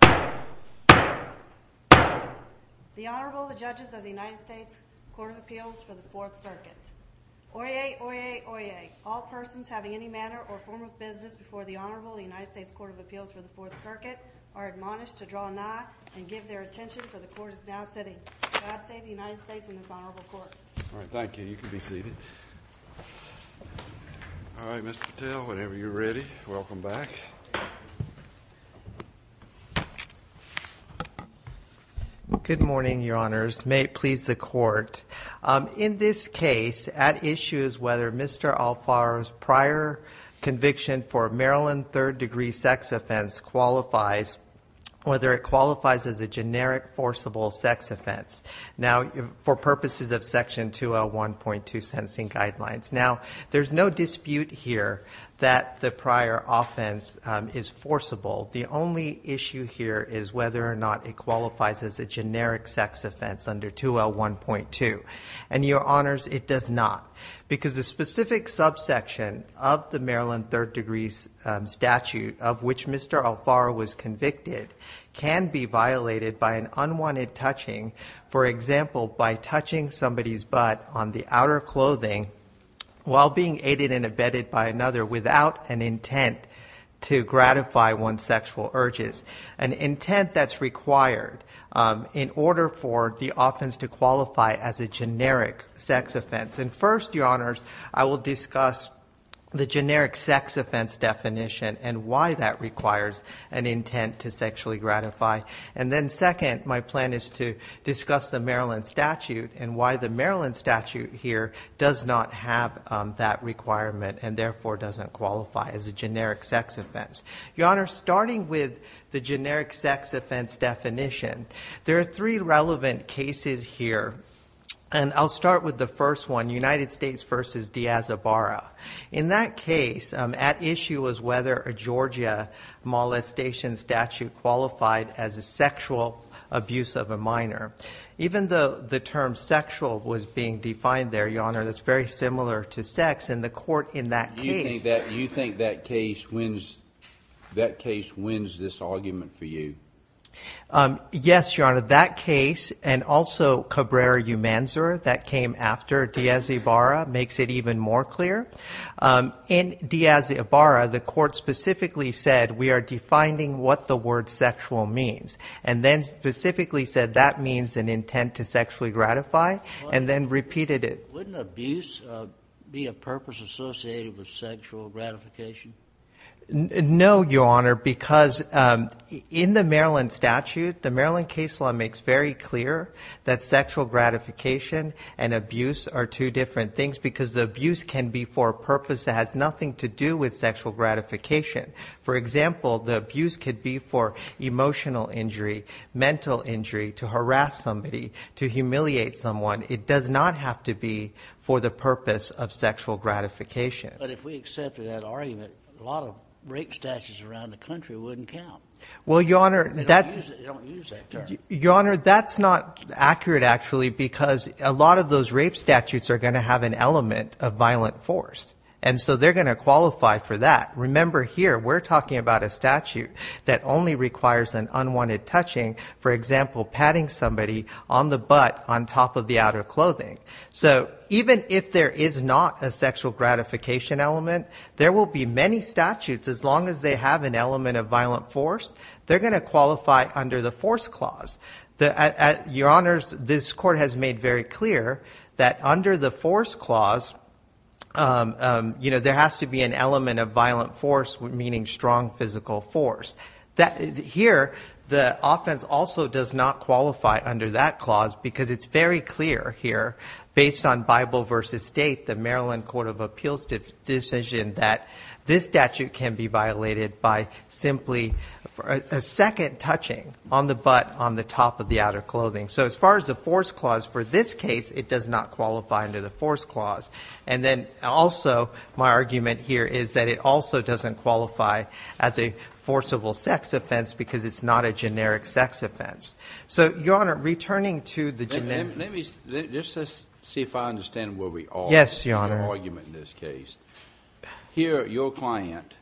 The Honorable, the Judges of the United States Court of Appeals for the Fourth Circuit. Oyez, oyez, oyez, all persons having any manner or form of business before the Honorable United States Court of Appeals for the Fourth Circuit are admonished to draw nigh and give their attention for the Court is now sitting. God save the United States and this Honorable Court. All right, thank you. You can be seated. All right, Mr. Patel, whenever you're ready, welcome back. Good morning, Your Honors. May it please the Court. In this case, at issue is whether Mr. Alfaro's prior conviction for a Maryland third degree sex offense qualifies, whether it qualifies as a generic forcible sex offense. Now, for purposes of section 2L1.2 sentencing guidelines. Now, there's no dispute here that the prior offense is forcible. The only issue here is whether or not it qualifies as a generic sex offense under 2L1.2. And, Your Honors, it does not. Because the specific subsection of the Maryland third degree statute of which Mr. Alfaro was convicted can be violated by an unwanted touching. For example, by touching somebody's butt on the outer clothing while being aided and abetted by another without an intent to gratify one's sexual urges. An intent that's required in order for the offense to qualify as a generic sex offense. And first, Your Honors, I will discuss the generic sex offense definition and why that requires an intent to sexually gratify. And then second, my plan is to discuss the Maryland statute and why the Maryland statute here does not have that requirement and therefore doesn't qualify as a generic sex offense. Your Honor, starting with the generic sex offense definition, there are three relevant cases here. And I'll start with the first one, United States v. Diaz-Ibarra. In that case, at issue was whether a Georgia molestation statute qualified as a sexual abuse of a minor. Even though the term sexual was being defined there, Your Honor, that's very similar to sex. You think that case wins this argument for you? Yes, Your Honor. That case and also Cabrera-Umanzur that came after Diaz-Ibarra makes it even more clear. In Diaz-Ibarra, the court specifically said we are defining what the word sexual means. And then specifically said that means an intent to sexually gratify and then repeated it. Wouldn't abuse be a purpose associated with sexual gratification? No, Your Honor, because in the Maryland statute, the Maryland case law makes very clear that sexual gratification and abuse are two different things because the abuse can be for a purpose that has nothing to do with sexual gratification. For example, the abuse could be for emotional injury, mental injury, to harass somebody, to humiliate someone. It does not have to be for the purpose of sexual gratification. But if we accepted that argument, a lot of rape statutes around the country wouldn't count. Well, Your Honor, that's not accurate actually because a lot of those rape statutes are going to have an element of violent force. And so they're going to qualify for that. Remember here, we're talking about a statute that only requires an unwanted touching. For example, patting somebody on the butt on top of the outer clothing. So even if there is not a sexual gratification element, there will be many statutes, as long as they have an element of violent force, they're going to qualify under the force clause. Your Honors, this court has made very clear that under the force clause, there has to be an element of violent force, meaning strong physical force. Here, the offense also does not qualify under that clause because it's very clear here, based on Bible v. State, the Maryland Court of Appeals decision, that this statute can be violated by simply a second touching on the butt on the top of the outer clothing. So as far as the force clause, for this case, it does not qualify under the force clause. And then also, my argument here is that it also doesn't qualify as a forcible sex offense because it's not a generic sex offense. So, Your Honor, returning to the generic... Let me just see if I understand where we are. Yes, Your Honor. In your argument in this case. Here, your client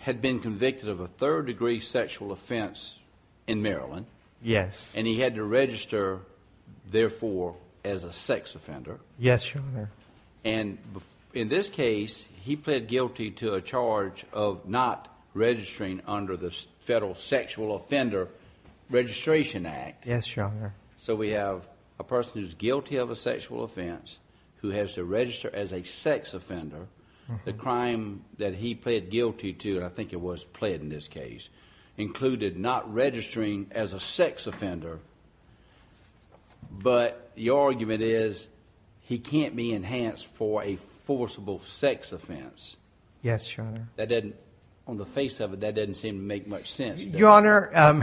had been convicted of a third-degree sexual offense in Maryland. Yes. And he had to register, therefore, as a sex offender. Yes, Your Honor. And in this case, he pled guilty to a charge of not registering under the Federal Sexual Offender Registration Act. Yes, Your Honor. So we have a person who's guilty of a sexual offense who has to register as a sex offender. The crime that he pled guilty to, and I think it was pled in this case, included not registering as a sex offender. But your argument is he can't be enhanced for a forcible sex offense. Yes, Your Honor. That doesn't, on the face of it, that doesn't seem to make much sense, does it? Your Honor... I'm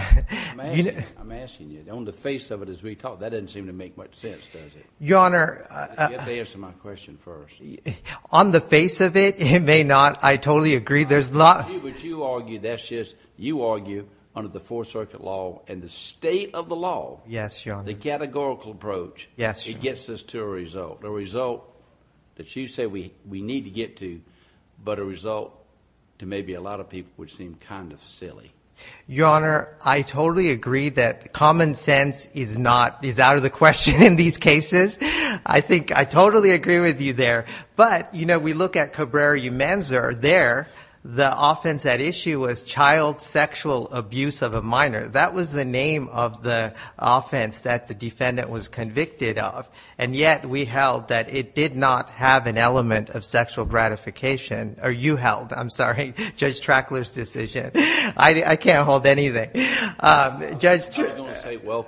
asking you, on the face of it as we talk, that doesn't seem to make much sense, does it? Your Honor... You have to answer my question first. On the face of it, it may not. I totally agree. What you argue, that's just you argue under the Fourth Circuit law and the state of the law. Yes, Your Honor. The categorical approach. Yes, Your Honor. It gets us to a result. A result that you say we need to get to, but a result to maybe a lot of people which seem kind of silly. Your Honor, I totally agree that common sense is out of the question in these cases. I think I totally agree with you there. But, you know, we look at Cabrera-Umanzar there. The offense at issue was child sexual abuse of a minor. That was the name of the offense that the defendant was convicted of. And yet we held that it did not have an element of sexual gratification. Or you held, I'm sorry, Judge Traxler's decision. I can't hold anything. I was going to say, well...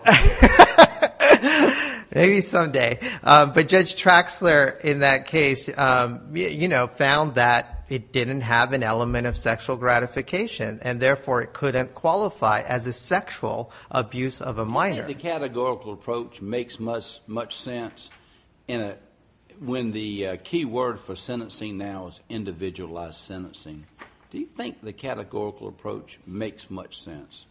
Maybe someday. But Judge Traxler in that case, you know, found that it didn't have an element of sexual gratification. And, therefore, it couldn't qualify as a sexual abuse of a minor. Do you think the categorical approach makes much sense when the key word for sentencing now is individualized sentencing? Do you think the categorical approach makes much sense?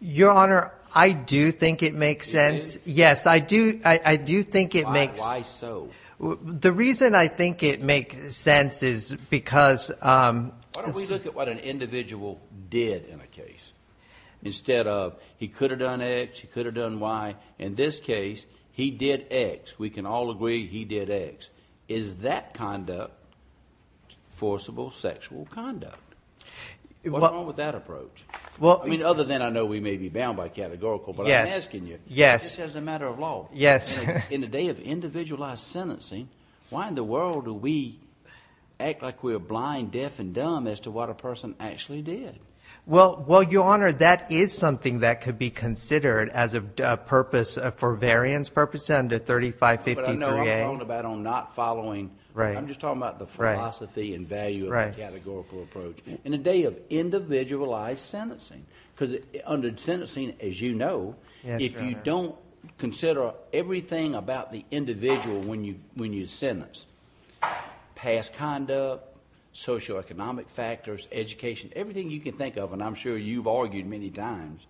Your Honor, I do think it makes sense. Yes, I do think it makes... Why so? The reason I think it makes sense is because... Why don't we look at what an individual did in a case? Instead of he could have done X, he could have done Y. In this case, he did X. We can all agree he did X. Is that conduct forcible sexual conduct? What's wrong with that approach? I mean, other than I know we may be bound by categorical, but I'm asking you. Yes. This is a matter of law. Yes. In a day of individualized sentencing, why in the world do we act like we're blind, deaf, and dumb as to what a person actually did? Well, Your Honor, that is something that could be considered as a purpose for variance purposes under 3553A. But I know I'm talking about on not following... Right. I'm just talking about the philosophy and value of the categorical approach. In a day of individualized sentencing, because under sentencing, as you know, if you don't consider everything about the individual when you sentence, past conduct, socioeconomic factors, education, everything you can think of, and I'm sure you've argued many times,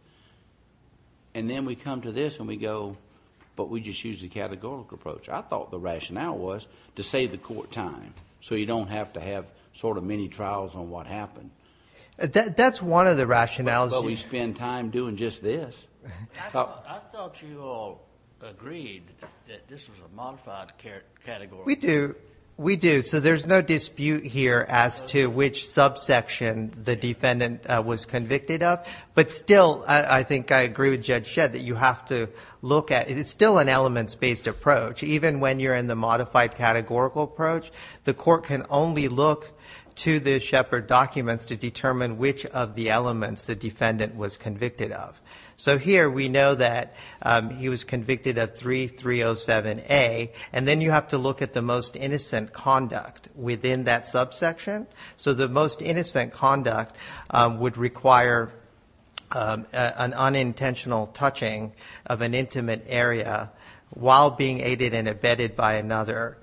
and then we come to this and we go, but we just use the categorical approach. I thought the rationale was to save the court time so you don't have to have sort of many trials on what happened. That's one of the rationales. But we spend time doing just this. I thought you all agreed that this was a modified categorical approach. We do. We do. So there's no dispute here as to which subsection the defendant was convicted of. But still, I think I agree with Judge Shedd, that you have to look at it. It's still an elements-based approach. Even when you're in the modified categorical approach, the court can only look to the Shepard documents to determine which of the elements the defendant was convicted of. So here we know that he was convicted of 3307A, and then you have to look at the most innocent conduct within that subsection. So the most innocent conduct would require an unintentional touching of an intimate area while being aided and abetted by another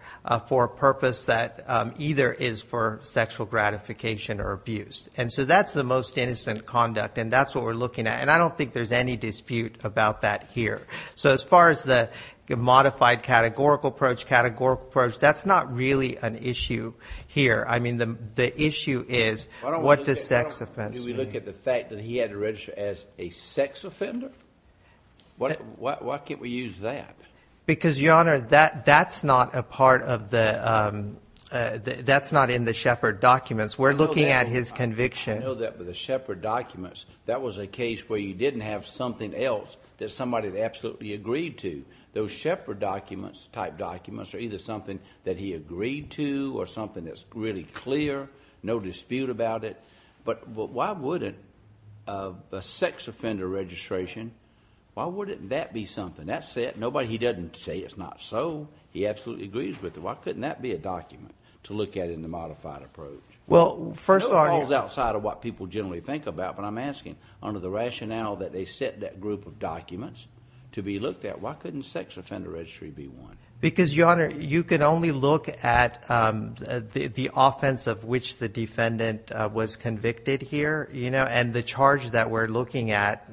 for a purpose that either is for sexual gratification or abuse. And so that's the most innocent conduct, and that's what we're looking at. And I don't think there's any dispute about that here. So as far as the modified categorical approach, categorical approach, that's not really an issue here. I mean, the issue is what does sex offense mean? Why don't we look at the fact that he had to register as a sex offender? Why can't we use that? Because, Your Honor, that's not a part of the—that's not in the Shepard documents. We're looking at his conviction. I know that, but the Shepard documents, that was a case where you didn't have something else that somebody had absolutely agreed to. Those Shepard documents, type documents, are either something that he agreed to or something that's really clear, no dispute about it. But why wouldn't a sex offender registration, why wouldn't that be something? That's it. Nobody—he doesn't say it's not so. He absolutely agrees with it. Why couldn't that be a document to look at in the modified approach? Well, first of all— It falls outside of what people generally think about, but I'm asking under the rationale that they set that group of documents to be looked at, why couldn't sex offender registry be one? Because, Your Honor, you can only look at the offense of which the defendant was convicted here, you know, and the charge that we're looking at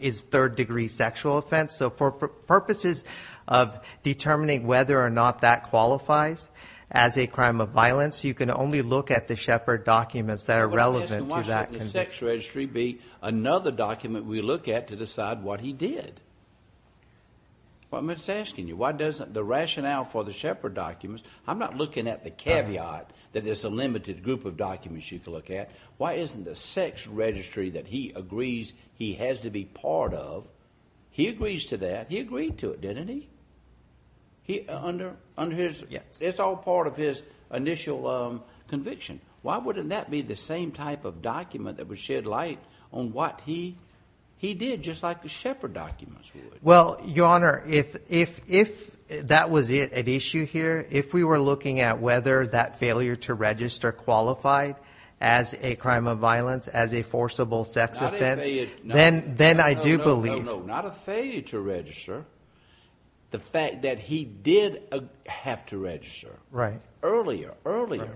is third-degree sexual offense. So for purposes of determining whether or not that qualifies as a crime of violence, you can only look at the Shepard documents that are relevant to that conviction. Why couldn't the sex registry be another document we look at to decide what he did? Well, I'm just asking you, why doesn't the rationale for the Shepard documents— I'm not looking at the caveat that there's a limited group of documents you can look at. Why isn't the sex registry that he agrees he has to be part of—he agrees to that. He agreed to it, didn't he? Under his— Yes. It's all part of his initial conviction. Why wouldn't that be the same type of document that would shed light on what he did, just like the Shepard documents would? Well, Your Honor, if that was an issue here, if we were looking at whether that failure to register qualified as a crime of violence, as a forcible sex offense, then I do believe— No, no, no, not a failure to register. The fact that he did have to register. Right. Earlier, earlier.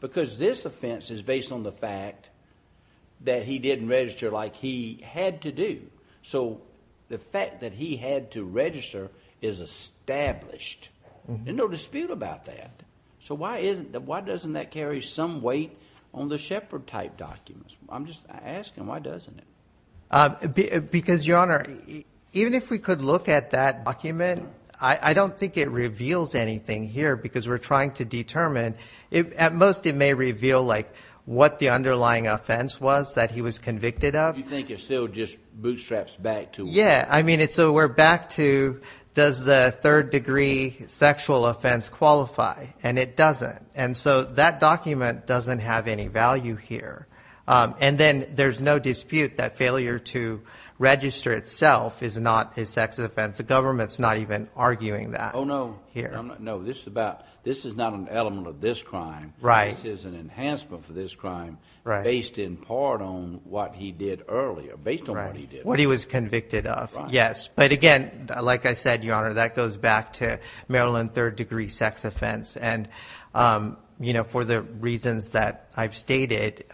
Because this offense is based on the fact that he didn't register like he had to do. So the fact that he had to register is established. There's no dispute about that. So why doesn't that carry some weight on the Shepard-type documents? I'm just asking, why doesn't it? Because, Your Honor, even if we could look at that document, I don't think it reveals anything here because we're trying to determine. At most, it may reveal, like, what the underlying offense was that he was convicted of. You think it still just bootstraps back to— Yeah. I mean, so we're back to, does the third-degree sexual offense qualify? And it doesn't. And so that document doesn't have any value here. And then there's no dispute that failure to register itself is not a sex offense. The government's not even arguing that here. Oh, no. No, this is about, this is not an element of this crime. Right. This is an enhancement for this crime based in part on what he did earlier, based on what he did. What he was convicted of, yes. But, again, like I said, Your Honor, that goes back to Maryland third-degree sex offense. And, you know, for the reasons that I've stated,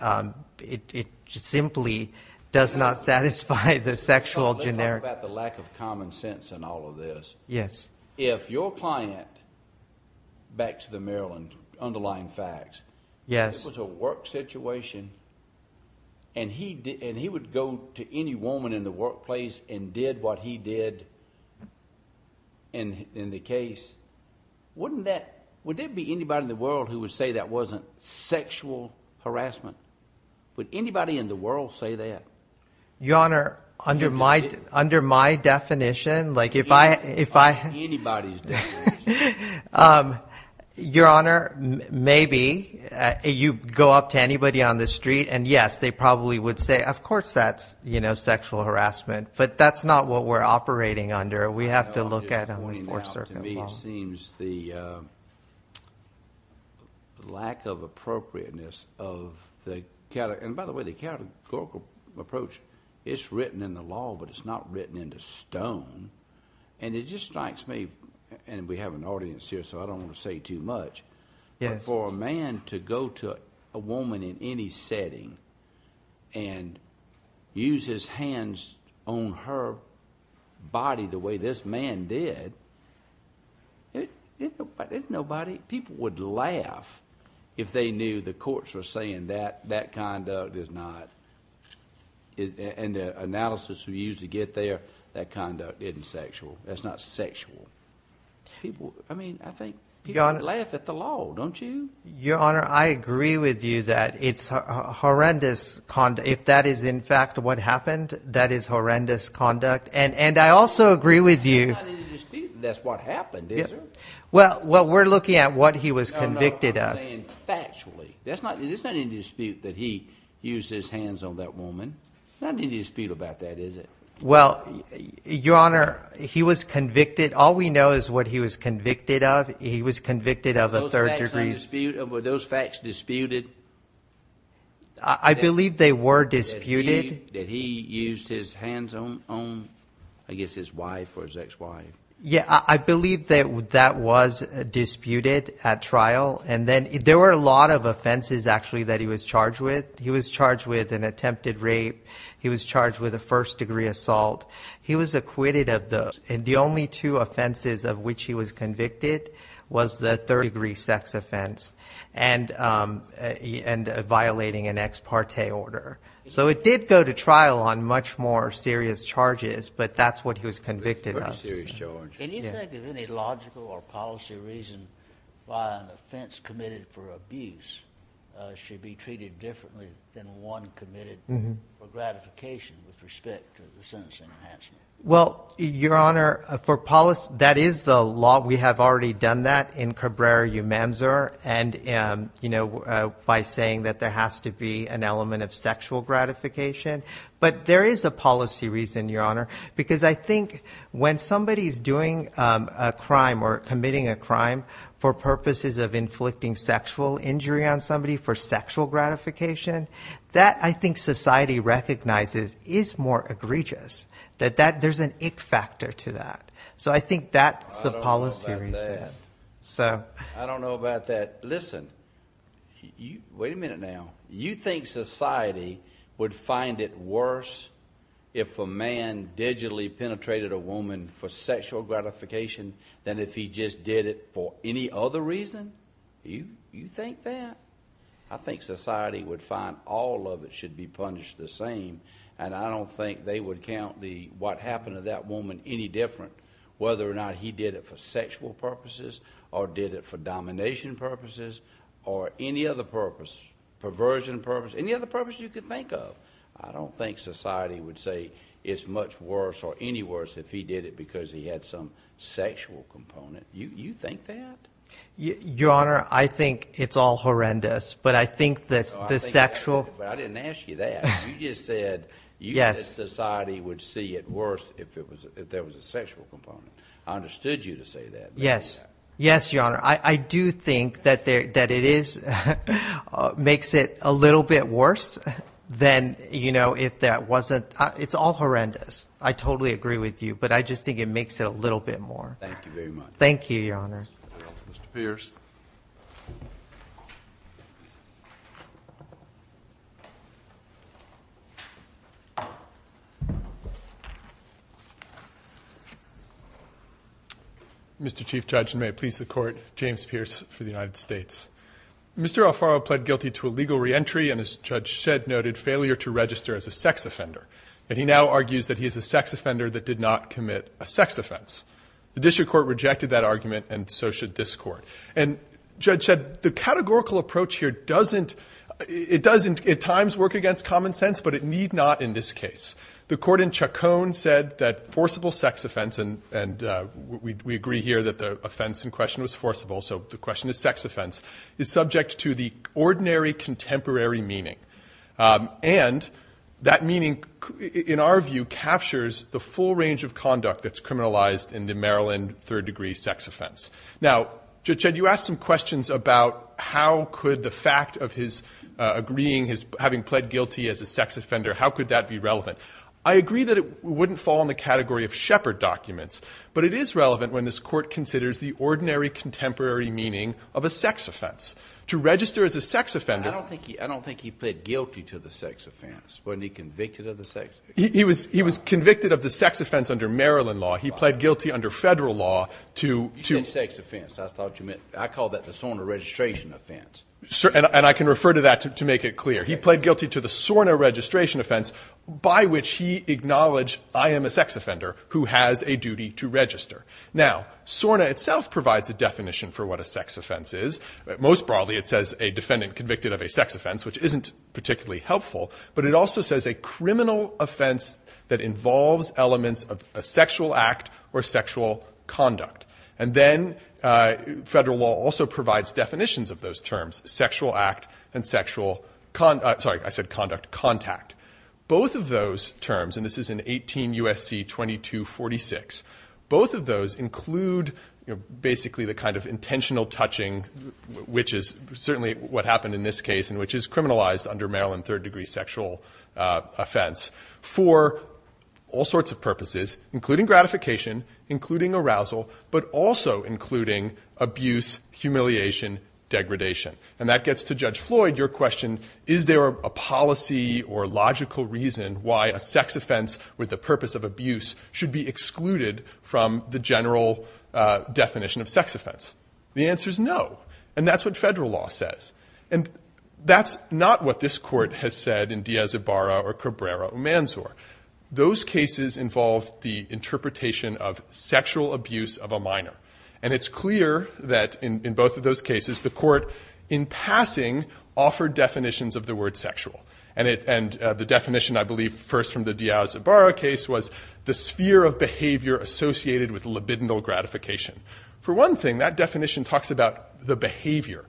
it simply does not satisfy the sexual generic— Yes. If your client, back to the Maryland underlying facts— Yes. If it was a work situation and he would go to any woman in the workplace and did what he did in the case, wouldn't that—would there be anybody in the world who would say that wasn't sexual harassment? Would anybody in the world say that? Your Honor, under my definition, like if I— Under anybody's definition. Your Honor, maybe. You go up to anybody on the street and, yes, they probably would say, of course that's, you know, sexual harassment. But that's not what we're operating under. We have to look at a law enforcement law. To me, it seems the lack of appropriateness of the—and, by the way, the categorical approach, it's written in the law, but it's not written into stone. And it just strikes me—and we have an audience here, so I don't want to say too much— Yes. But for a man to go to a woman in any setting and use his hands on her body the way this man did, isn't nobody—people would laugh if they knew the courts were saying that that conduct is not— and the analysis we used to get there, that conduct isn't sexual. That's not sexual. I mean, I think people would laugh at the law, don't you? Your Honor, I agree with you that it's horrendous—if that is, in fact, what happened, that is horrendous conduct. And I also agree with you— That's not in the dispute. That's what happened, isn't it? Well, we're looking at what he was convicted of. No, no, I'm saying factually. It's not in the dispute that he used his hands on that woman. Not in the dispute about that, is it? Well, Your Honor, he was convicted—all we know is what he was convicted of. He was convicted of a third degree— Were those facts disputed? I believe they were disputed. That he used his hands on, I guess, his wife or his ex-wife. Yeah, I believe that that was disputed at trial. And then there were a lot of offenses, actually, that he was charged with. He was charged with an attempted rape. He was charged with a first degree assault. He was acquitted of those. And the only two offenses of which he was convicted was the third degree sex offense and violating an ex parte order. So it did go to trial on much more serious charges, but that's what he was convicted of. Pretty serious charges. Can you think of any logical or policy reason why an offense committed for abuse should be treated differently than one committed for gratification with respect to the sentencing enhancement? Well, Your Honor, that is the law. We have already done that in Cabrera-Umanzur by saying that there has to be an element of sexual gratification. But there is a policy reason, Your Honor, because I think when somebody is doing a crime or committing a crime for purposes of inflicting sexual injury on somebody for sexual gratification, that I think society recognizes is more egregious, that there's an ick factor to that. So I think that's the policy reason. I don't know about that. Listen. Wait a minute now. You think society would find it worse if a man digitally penetrated a woman for sexual gratification than if he just did it for any other reason? You think that? I think society would find all of it should be punished the same. And I don't think they would count what happened to that woman any different, whether or not he did it for sexual purposes or did it for domination purposes or any other purpose, perversion purposes, any other purpose you could think of. I don't think society would say it's much worse or any worse if he did it because he had some sexual component. You think that? Your Honor, I think it's all horrendous. But I think the sexual— Yes. You think society would see it worse if there was a sexual component. I understood you to say that. Yes. Yes, Your Honor. I do think that it makes it a little bit worse than if that wasn't—it's all horrendous. I totally agree with you, but I just think it makes it a little bit more. Thank you very much. Thank you, Your Honor. Mr. Pierce. Mr. Chief Judge, and may it please the Court, James Pierce for the United States. Mr. Alfaro pled guilty to a legal reentry and, as Judge Shedd noted, failure to register as a sex offender. And he now argues that he is a sex offender that did not commit a sex offense. The District Court rejected that argument, and so should this Court. And, Judge Shedd, the categorical approach here doesn't—it doesn't at times work against common sense, but it need not in this case. The Court in Chacon said that forcible sex offense—and we agree here that the offense in question was forcible, so the question is sex offense—is subject to the ordinary contemporary meaning. And that meaning, in our view, captures the full range of conduct that's criminalized in the Maryland third-degree sex offense. Now, Judge Shedd, you asked some questions about how could the fact of his agreeing his—having pled guilty as a sex offender, how could that be relevant? I agree that it wouldn't fall in the category of Shepard documents, but it is relevant when this Court considers the ordinary contemporary meaning of a sex offense. To register as a sex offender— He pled guilty to the sex offense. Wasn't he convicted of the sex offense? He was convicted of the sex offense under Maryland law. He pled guilty under Federal law to— You said sex offense. I thought you meant—I called that the SORNA registration offense. And I can refer to that to make it clear. He pled guilty to the SORNA registration offense, by which he acknowledged, I am a sex offender who has a duty to register. Now, SORNA itself provides a definition for what a sex offense is. Most broadly, it says a defendant convicted of a sex offense, which isn't particularly helpful. But it also says a criminal offense that involves elements of a sexual act or sexual conduct. And then Federal law also provides definitions of those terms, sexual act and sexual— Sorry, I said conduct—contact. Both of those terms—and this is in 18 U.S.C. 2246— both of those include basically the kind of intentional touching, which is certainly what happened in this case, and which is criminalized under Maryland third-degree sexual offense, for all sorts of purposes, including gratification, including arousal, but also including abuse, humiliation, degradation. And that gets to Judge Floyd. Your question, is there a policy or logical reason why a sex offense with the purpose of abuse should be excluded from the general definition of sex offense? The answer is no. And that's what Federal law says. And that's not what this Court has said in Diaz-Ibarra or Cabrera-Umanzor. Those cases involved the interpretation of sexual abuse of a minor. And it's clear that in both of those cases the Court, in passing, offered definitions of the word sexual. And the definition, I believe, first from the Diaz-Ibarra case was the sphere of behavior associated with libidinal gratification. For one thing, that definition talks about the behavior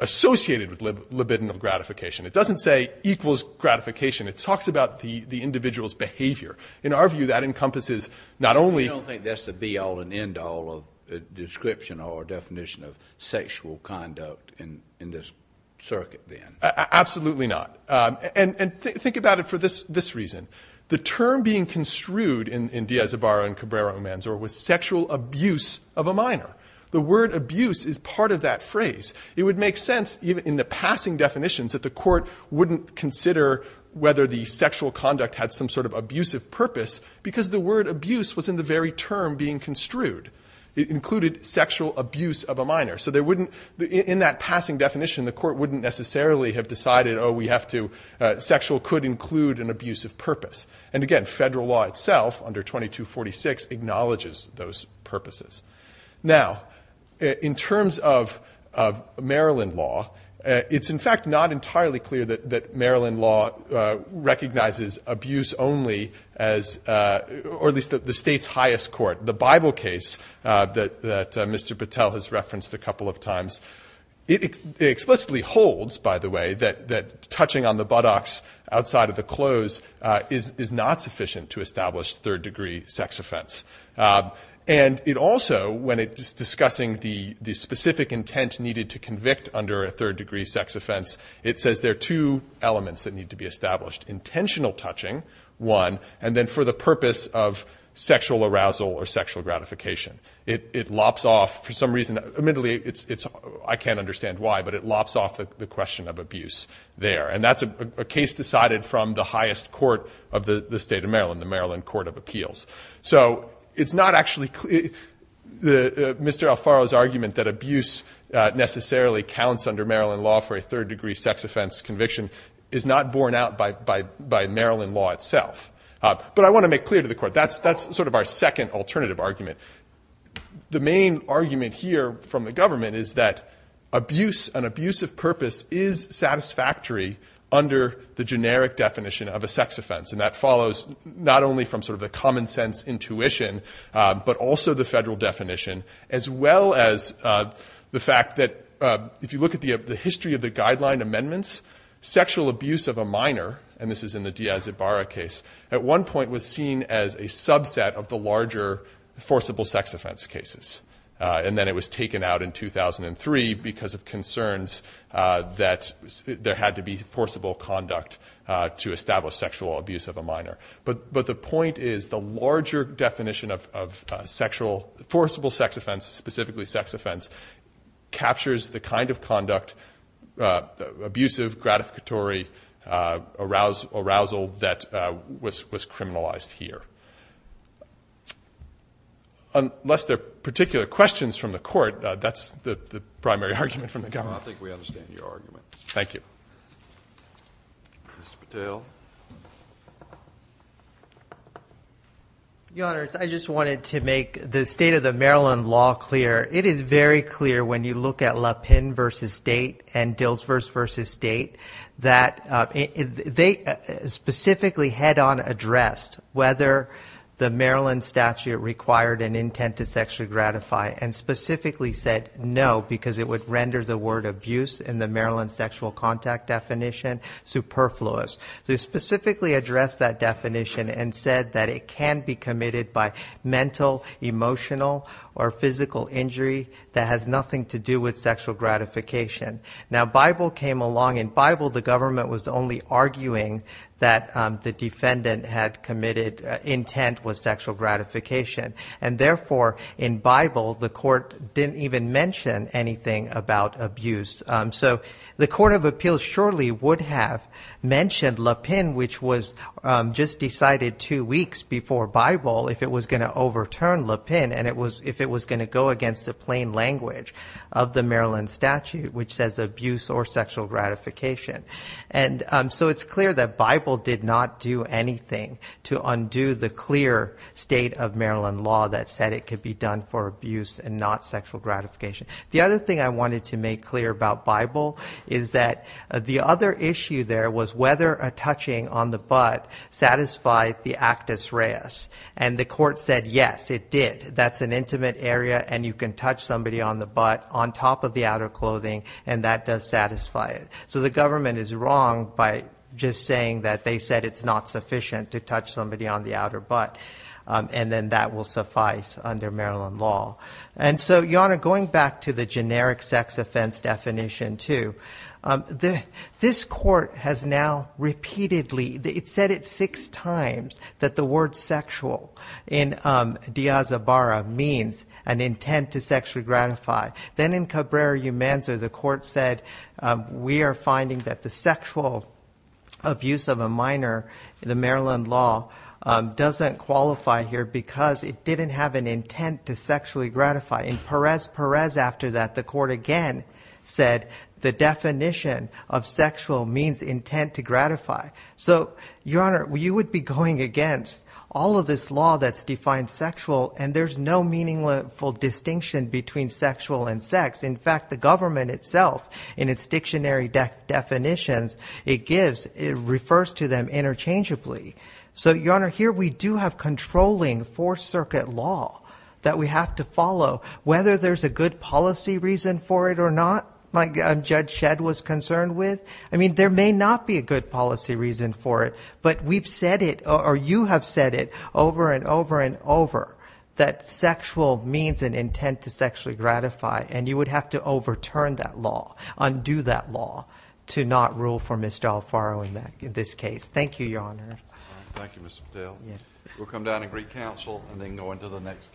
associated with libidinal gratification. It doesn't say equals gratification. It talks about the individual's behavior. In our view, that encompasses not only— You don't think that's the be-all and end-all description or definition of sexual conduct in this circuit, then? Absolutely not. And think about it for this reason. The term being construed in Diaz-Ibarra and Cabrera-Umanzor was sexual abuse of a minor. The word abuse is part of that phrase. It would make sense, even in the passing definitions, that the Court wouldn't consider whether the sexual conduct had some sort of abusive purpose because the word abuse was in the very term being construed. It included sexual abuse of a minor. In that passing definition, the Court wouldn't necessarily have decided, oh, we have to—sexual could include an abusive purpose. And again, federal law itself, under 2246, acknowledges those purposes. Now, in terms of Maryland law, it's, in fact, not entirely clear that Maryland law recognizes abuse only as— or at least the state's highest court. The Bible case that Mr. Patel has referenced a couple of times, it explicitly holds, by the way, that touching on the buttocks outside of the clothes is not sufficient to establish third-degree sex offense. And it also, when it's discussing the specific intent needed to convict under a third-degree sex offense, it says there are two elements that need to be established. Intentional touching, one, and then for the purpose of sexual arousal or sexual gratification. It lops off, for some reason—admittedly, I can't understand why, but it lops off the question of abuse there. And that's a case decided from the highest court of the state of Maryland, the Maryland Court of Appeals. So it's not actually—Mr. Alfaro's argument that abuse necessarily counts under Maryland law for a third-degree sex offense conviction is not borne out by Maryland law itself. But I want to make clear to the court, that's sort of our second alternative argument. The main argument here from the government is that abuse, an abuse of purpose, is satisfactory under the generic definition of a sex offense. And that follows not only from sort of the common-sense intuition, but also the federal definition, as well as the fact that, if you look at the history of the guideline amendments, sexual abuse of a minor—and this is in the Diaz-Ibarra case— at one point was seen as a subset of the larger forcible sex offense cases. And then it was taken out in 2003 because of concerns that there had to be forcible conduct to establish sexual abuse of a minor. But the point is, the larger definition of sexual—forcible sex offense, specifically sex offense—captures the kind of conduct, abusive, gratificatory, arousal that was criminalized here. Unless there are particular questions from the court, that's the primary argument from the government. I think we understand your argument. Thank you. Mr. Patel. Your Honor, I just wanted to make the state of the Maryland law clear. It is very clear, when you look at Lapin v. State and Dilsburs v. State, that they specifically head-on addressed whether the Maryland statute required an intent to sexually gratify and specifically said no, because it would render the word abuse in the Maryland sexual contact definition superfluous. They specifically addressed that definition and said that it can be committed by mental, emotional, or physical injury that has nothing to do with sexual gratification. Now, Bible came along. In Bible, the government was only arguing that the defendant had committed intent with sexual gratification. And therefore, in Bible, the court didn't even mention anything about abuse. So the court of appeals surely would have mentioned Lapin, which was just decided two weeks before Bible, if it was going to overturn Lapin and if it was going to go against the plain language of the Maryland statute, which says abuse or sexual gratification. And so it's clear that Bible did not do anything to undo the clear state of Maryland law that said it could be done for abuse and not sexual gratification. The other thing I wanted to make clear about Bible is that the other issue there was whether a touching on the butt satisfied the actus reus. And the court said, yes, it did. That's an intimate area, and you can touch somebody on the butt on top of the outer clothing, and that does satisfy it. So the government is wrong by just saying that they said it's not sufficient to touch somebody on the outer butt, and then that will suffice under Maryland law. And so, Jana, going back to the generic sex offense definition, too, this court has now repeatedly said it six times that the word sexual in diazabara means an intent to sexually gratify. Then in Cabrera-Umanza, the court said, we are finding that the sexual abuse of a minor in the Maryland law doesn't qualify here because it didn't have an intent to sexually gratify. In Perez-Perez after that, the court again said the definition of sexual means intent to gratify. So, Your Honor, you would be going against all of this law that's defined sexual, and there's no meaningful distinction between sexual and sex. In fact, the government itself in its dictionary definitions, it gives, it refers to them interchangeably. So, Your Honor, here we do have controlling fourth circuit law that we have to follow, whether there's a good policy reason for it or not, like Judge Shedd was concerned with. I mean, there may not be a good policy reason for it, but we've said it, or you have said it over and over and over that sexual means an intent to sexually gratify, and you would have to overturn that law, undo that law to not rule for Ms. D'Alfaro in this case. Thank you, Your Honor. Thank you, Mr. Patel. We'll come down and greet counsel and then go into the next case.